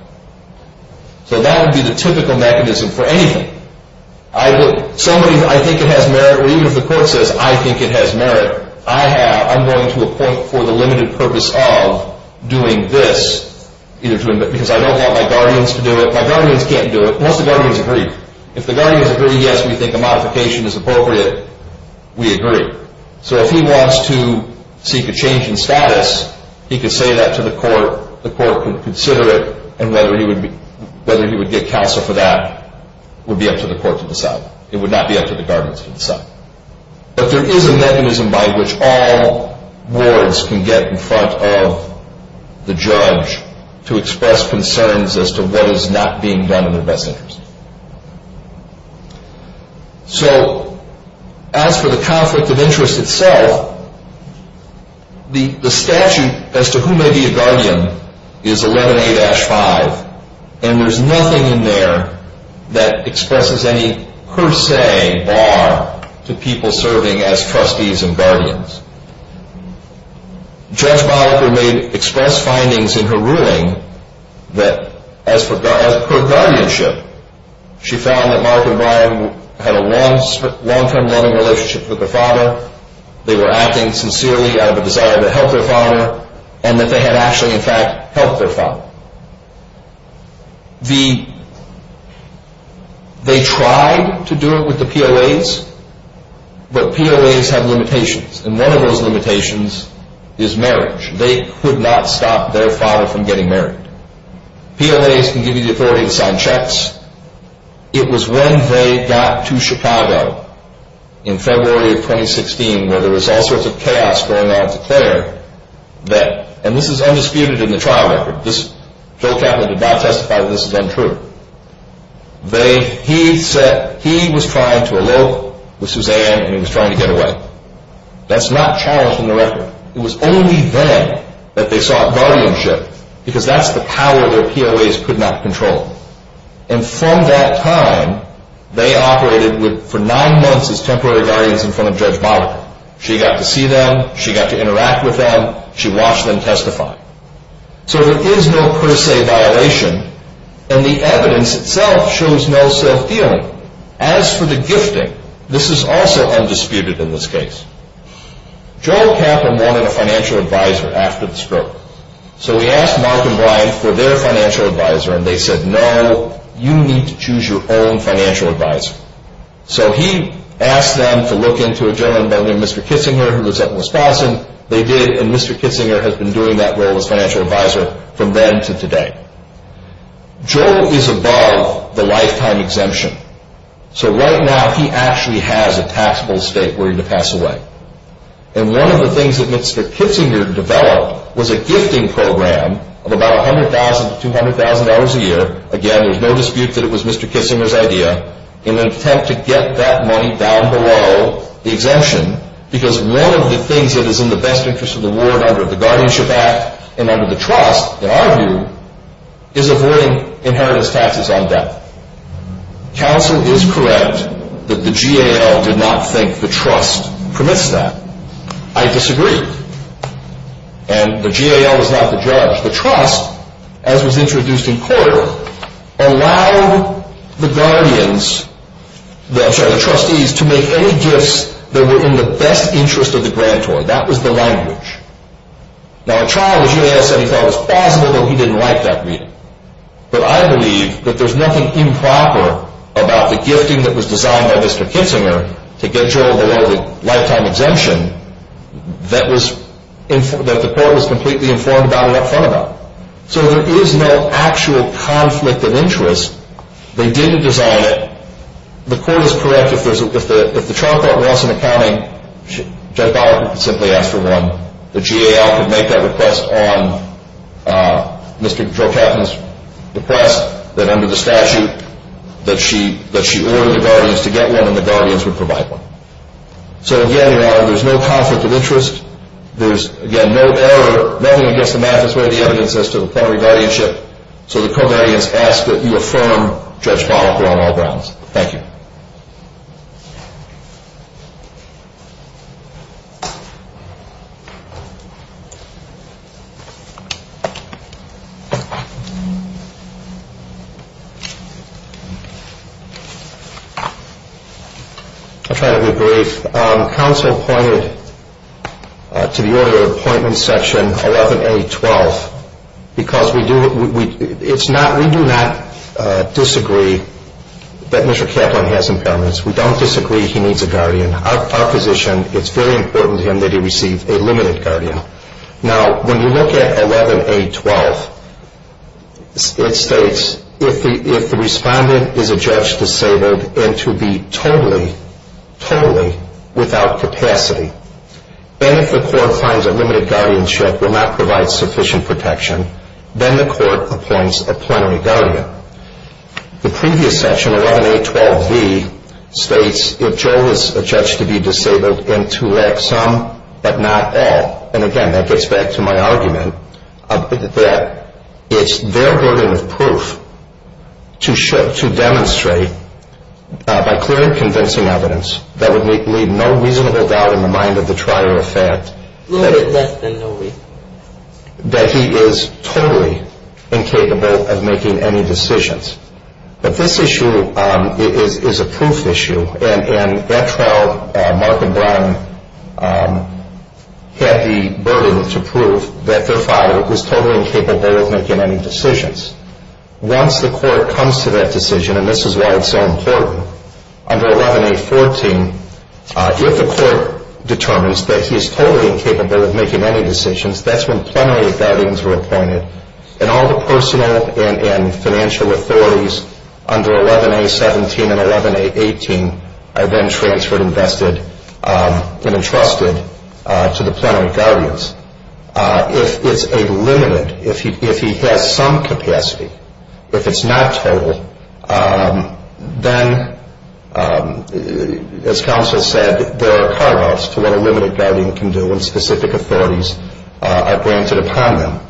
So that would be the typical mechanism for anything. Somebody, I think it has merit, or even if the court says I think it has merit, I'm going to appoint for the limited purpose of doing this. Because I don't want my guardians to do it. My guardians can't do it. Most of the guardians agree. If the guardians agree, yes, we think a modification is appropriate. We agree. So if he wants to seek a change in status, he can say that to the court. The court can consider it. And whether he would get counsel for that would be up to the court to decide. It would not be up to the guardians to decide. But there is a mechanism by which all wards can get in front of the judge to express concerns as to what is not being done in their best interest. So as for the conflict of interest itself, the statute as to who may be a guardian is 11A-5. And there is nothing in there that expresses any per se bar to people serving as trustees and guardians. Judge Moniker made express findings in her ruling that as per guardianship, she found that Mark and Brian had a long-term loving relationship with their father. They were acting sincerely out of a desire to help their father, and that they had actually, in fact, helped their father. They tried to do it with the POAs, but POAs have limitations. And one of those limitations is marriage. They could not stop their father from getting married. POAs can give you the authority to sign checks. It was when they got to Chicago in February of 2016 where there was all sorts of chaos going on at the Clare that, and this is undisputed in the trial record. Phil Kaplan did not testify that this is untrue. He said he was trying to elope with Suzanne and he was trying to get away. That's not challenged in the record. It was only then that they sought guardianship because that's the power that POAs could not control. And from that time, they operated for nine months as temporary guardians in front of Judge Moniker. She got to see them. She got to interact with them. She watched them testify. So there is no per se violation, and the evidence itself shows no self-dealing. As for the gifting, this is also undisputed in this case. Joe Kaplan wanted a financial advisor after the stroke. So he asked Mark and Brian for their financial advisor, and they said, no, you need to choose your own financial advisor. So he asked them to look into a gentleman by the name of Mr. Kitzinger who lives up in Wisconsin. They did, and Mr. Kitzinger has been doing that role as financial advisor from then to today. Joe is above the lifetime exemption. So right now, he actually has a taxable estate willing to pass away. And one of the things that Mr. Kitzinger developed was a gifting program of about $100,000 to $200,000 a year. Again, there's no dispute that it was Mr. Kitzinger's idea in an attempt to get that money down below the exemption because one of the things that is in the best interest of the ward under the Guardianship Act and under the trust, in our view, is avoiding inheritance taxes on debt. Counsel is correct that the GAL did not think the trust permits that. I disagree, and the GAL is not the judge. The trust, as was introduced in court, allowed the trustees to make any gifts that were in the best interest of the grantor. That was the language. Now, in trial, the GAL said he thought it was plausible, but he didn't like that reading. But I believe that there's nothing improper about the gifting that was designed by Mr. Kitzinger to get Joe below the lifetime exemption that the court was completely informed about and up front about. So there is no actual conflict of interest. They did design it. The court is correct. If the trial court wants an accounting, Judge Gallagher could simply ask for one. The GAL could make that request on Mr. Joe Katzman's request that under the statute, that she order the guardians to get one and the guardians would provide one. So again, there's no conflict of interest. There's, again, no error. Nothing against the math. That's what the evidence says to the plenary guardianship. So the co-guardians ask that you affirm Judge Gallagher on all grounds. Thank you. I'll try to be brief. Counsel pointed to the order of appointment section 11A12 because we do not disagree that Mr. Kaplan has impairments. We don't disagree he needs a guardian. Our position, it's very important to him that he receive a limited guardian. Now, when you look at 11A12, it states if the respondent is a judge disabled and to be totally, totally without capacity, then if the court finds that limited guardianship will not provide sufficient protection, then the court appoints a plenary guardian. The previous section, 11A12V, states if Joe is a judge to be disabled and to lack some but not all, and again, that gets back to my argument, that it's their burden of proof to demonstrate by clear and convincing evidence that would leave no reasonable doubt in the mind of the trier of fact that he is totally incapable of making any decisions. But this issue is a proof issue, and that trial, Mark and Brian had the burden to prove that their father was totally incapable of making any decisions. Once the court comes to that decision, and this is why it's so important, under 11A14, if the court determines that he is totally incapable of making any decisions, that's when plenary guardians are appointed. And all the personal and financial authorities under 11A17 and 11A18 are then transferred, invested, and entrusted to the plenary guardians. If it's a limited, if he has some capacity, if it's not total, then, as counsel said, there are cutoffs to what a limited guardian can do when specific authorities are granted upon them.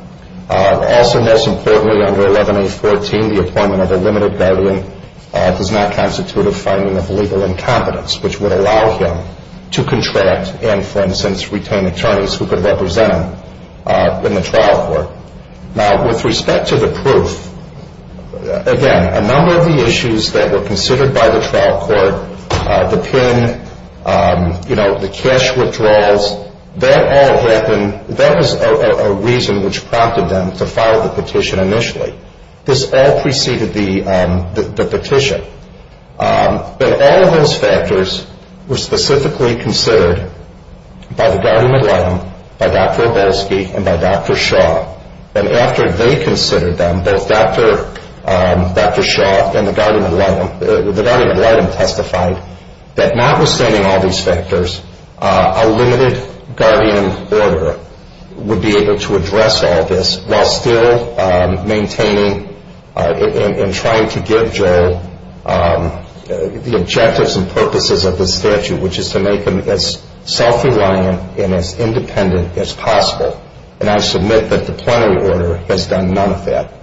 Also, most importantly, under 11A14, the appointment of a limited guardian does not constitute a finding of legal incompetence, which would allow him to contract and, for instance, retain attorneys who could represent him in the trial court. Now, with respect to the proof, again, a number of the issues that were considered by the trial court, the PIN, you know, the cash withdrawals, that all happened, that was a reason which prompted them to file the petition initially. This all preceded the petition. But all of those factors were specifically considered by the guardian ad litem, by Dr. Obelsky, and by Dr. Shaw. And after they considered them, both Dr. Shaw and the guardian ad litem testified that notwithstanding all these factors, a limited guardian order would be able to address all this while still maintaining and trying to give Joel the objectives and purposes of the statute, which is to make him as self-reliant and as independent as possible. And I submit that the plenary order has done none of that.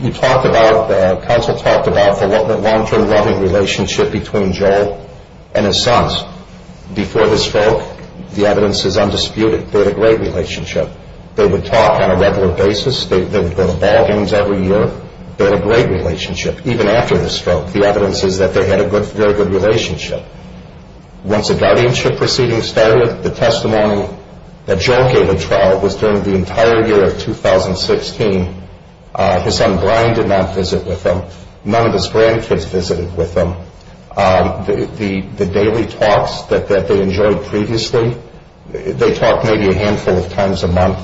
You talked about, counsel talked about the long-term loving relationship between Joel and his sons. Before the stroke, the evidence is undisputed, they had a great relationship. They would talk on a regular basis. They would go to ballgames every year. They had a great relationship, even after the stroke. The evidence is that they had a very good relationship. Once the guardianship proceedings started, the testimony that Joel gave at trial was during the entire year of 2016. His son Brian did not visit with them. None of his grandkids visited with them. The daily talks that they enjoyed previously, they talked maybe a handful of times a month.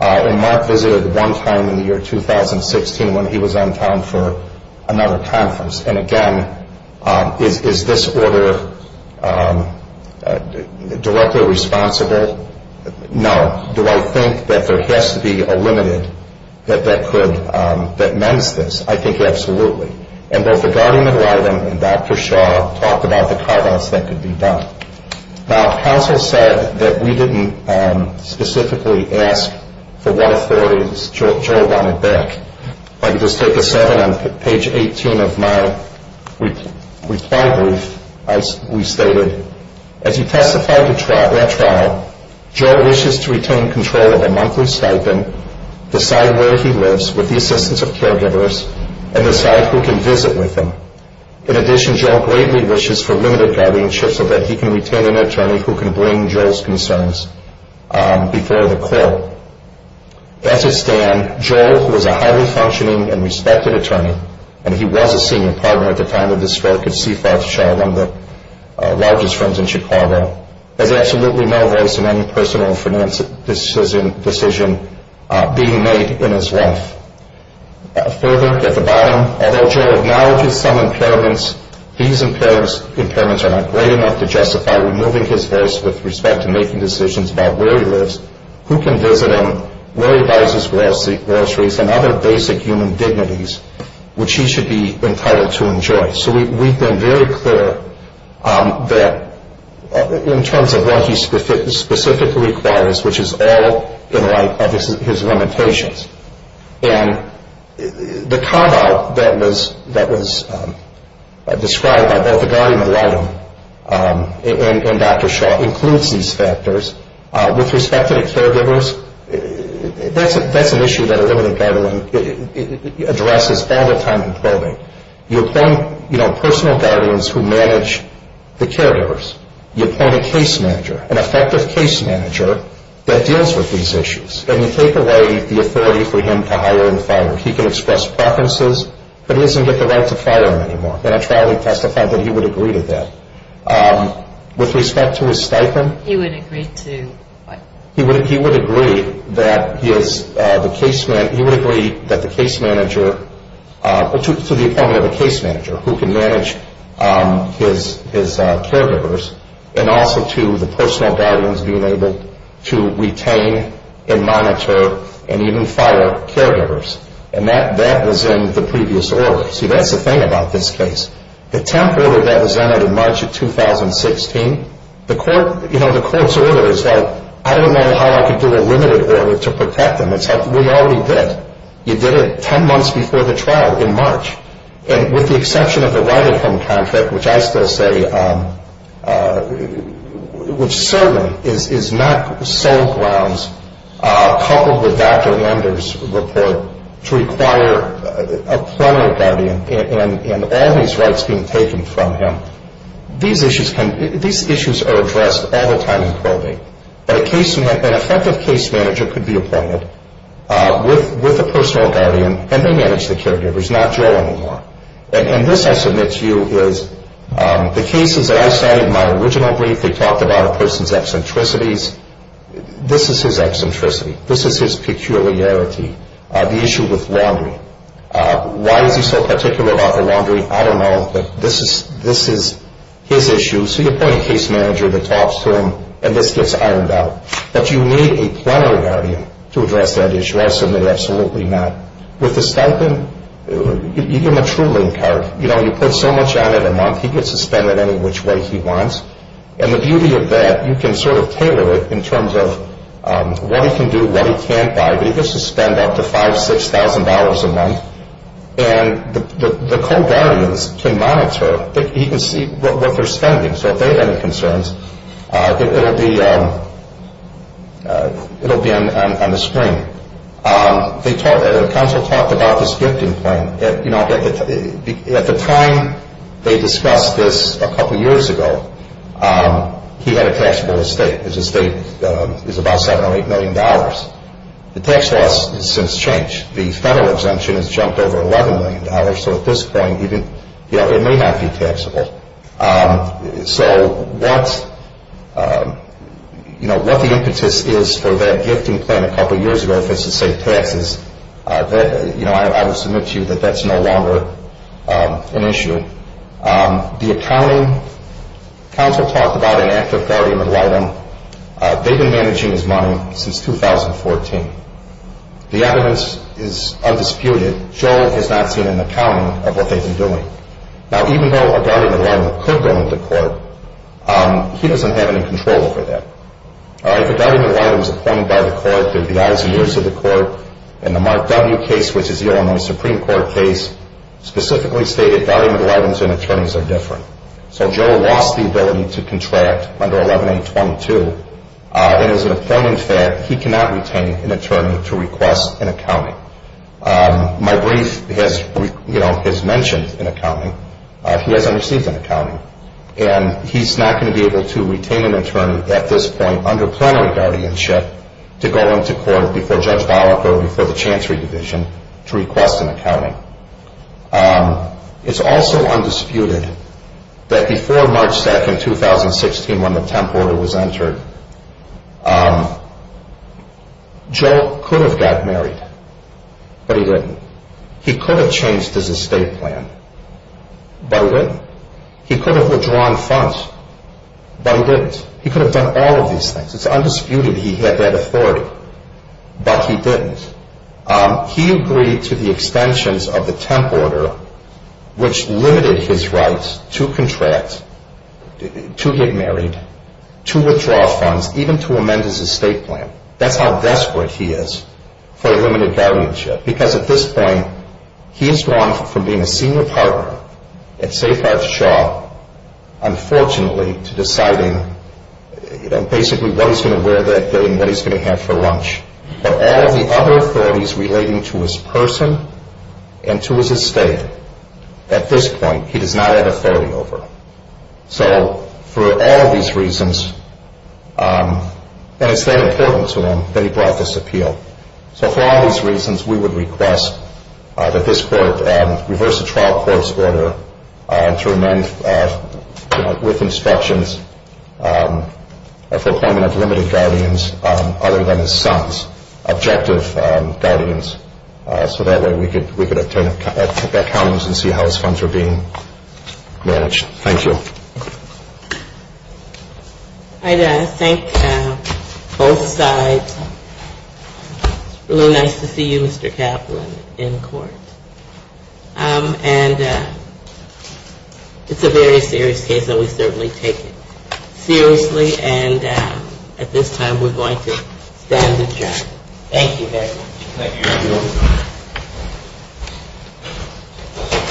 And Mark visited one time in the year 2016 when he was on town for another conference. And again, is this order directly responsible? No. Do I think that there has to be a limited that could, that mends this? I think absolutely. And both the guardian and Dr. Shaw talked about the carve-outs that could be done. Now, counsel said that we didn't specifically ask for what authorities Joel wanted back. If I could just take a second. On page 18 of my reply brief, we stated, As you testified at trial, Joel wishes to retain control of a monthly stipend, decide where he lives with the assistance of caregivers, and decide who can visit with him. In addition, Joel greatly wishes for limited guardianship so that he can retain an attorney who can bring Joel's concerns before the court. As it stands, Joel, who is a highly functioning and respected attorney, and he was a senior partner at the time of the stroke of C-5 Shaw, one of the largest firms in Chicago, has absolutely no voice in any personal financial decision being made in his life. Further, at the bottom, although Joel acknowledges some impairments, these impairments are not great enough to justify removing his voice with respect to making decisions about where he lives, who can visit him, where he buys his groceries, and other basic human dignities, which he should be entitled to enjoy. So we've been very clear that in terms of what he specifically requires, which is all in light of his limitations, and the carve-out that was described by both the guardian of the item and Dr. Shaw includes these factors. With respect to the caregivers, that's an issue that a limited guardian addresses all the time in probing. You appoint personal guardians who manage the caregivers. You appoint a case manager, an effective case manager, that deals with these issues. And you take away the authority for him to hire and fire. He can express preferences, but he doesn't get the right to fire him anymore. In a trial, he testified that he would agree to that. With respect to his stipend? He would agree to what? He would agree that the case manager, to the appointment of a case manager who can manage his caregivers, and also to the personal guardians being able to retain and monitor and even fire caregivers. And that was in the previous order. See, that's the thing about this case. The temp order that was entered in March of 2016, the court's order is like, I don't know how I could do a limited order to protect them. We already did. You did it 10 months before the trial in March. And with the exception of the right-of-home contract, which I still say, which certainly is not sole grounds coupled with Dr. Lender's report to require a primary guardian. And all these rights being taken from him, these issues are addressed all the time in probate. An effective case manager could be appointed with a personal guardian, and they manage the caregivers, not Joe anymore. And this, I submit to you, is the cases that I cited in my original brief, they talked about a person's eccentricities. This is his eccentricity. This is his peculiarity. The issue with laundry. Why is he so particular about the laundry? I don't know, but this is his issue. So you appoint a case manager that talks to him, and this gets ironed out. But you need a primary guardian to address that issue. I submit absolutely not. With the stipend, you give him a true link card. You know, you put so much on it a month, he gets to spend it any which way he wants. And the beauty of that, you can sort of tailor it in terms of what he can do, what he can't buy. But he gets to spend up to $5,000, $6,000 a month. And the co-guardians can monitor. He can see what they're spending. So if they have any concerns, it will be on the screen. The counsel talked about this gifting plan. At the time they discussed this a couple years ago, he had a taxable estate. His estate is about $7 or $8 million. The tax loss has since changed. The federal exemption has jumped over $11 million. So at this point, it may not be taxable. So what the impetus is for that gifting plan a couple years ago, if it's to save taxes, I would submit to you that that's no longer an issue. The accounting, counsel talked about an active guardian ad litem. They've been managing his money since 2014. The evidence is undisputed. Joel has not seen an accounting of what they've been doing. Now, even though a guardian ad litem could go into court, he doesn't have any control over that. If a guardian ad litem is appointed by the court, there would be eyes and ears of the court. And the Mark W. case, which is the Illinois Supreme Court case, specifically stated guardian ad litems and attorneys are different. So Joel lost the ability to contract under 11-822. It is an offending fact he cannot retain an attorney to request an accounting. My brief has mentioned an accounting. He hasn't received an accounting. And he's not going to be able to retain an attorney at this point under primary guardianship to go into court before Judge Balico, before the Chancery Division, to request an accounting. It's also undisputed that before March 2, 2016, when the temp order was entered, Joel could have got married, but he didn't. He could have changed his estate plan, but he didn't. He could have withdrawn funds, but he didn't. He could have done all of these things. It's undisputed he had that authority, but he didn't. He agreed to the extensions of the temp order, which limited his rights to contract, to get married, to withdraw funds, even to amend his estate plan. That's how desperate he is for limited guardianship. Because at this point, he has gone from being a senior partner at Safe House Shaw, unfortunately, to deciding basically what he's going to wear that day and what he's going to have for lunch. But all of the other authorities relating to his person and to his estate, at this point, he does not have authority over. So for all of these reasons, and it's that important to him that he brought this appeal. So for all of these reasons, we would request that this court reverse the trial court's order to amend, with inspections, a foreclosure of limited guardians other than his son's objective guardians, so that way we could obtain accountings and see how his funds are being managed. Thank you. I thank both sides. It's really nice to see you, Mr. Kaplan, in court. And it's a very serious case, and we certainly take it seriously. And at this time, we're going to stand adjourned. Thank you very much.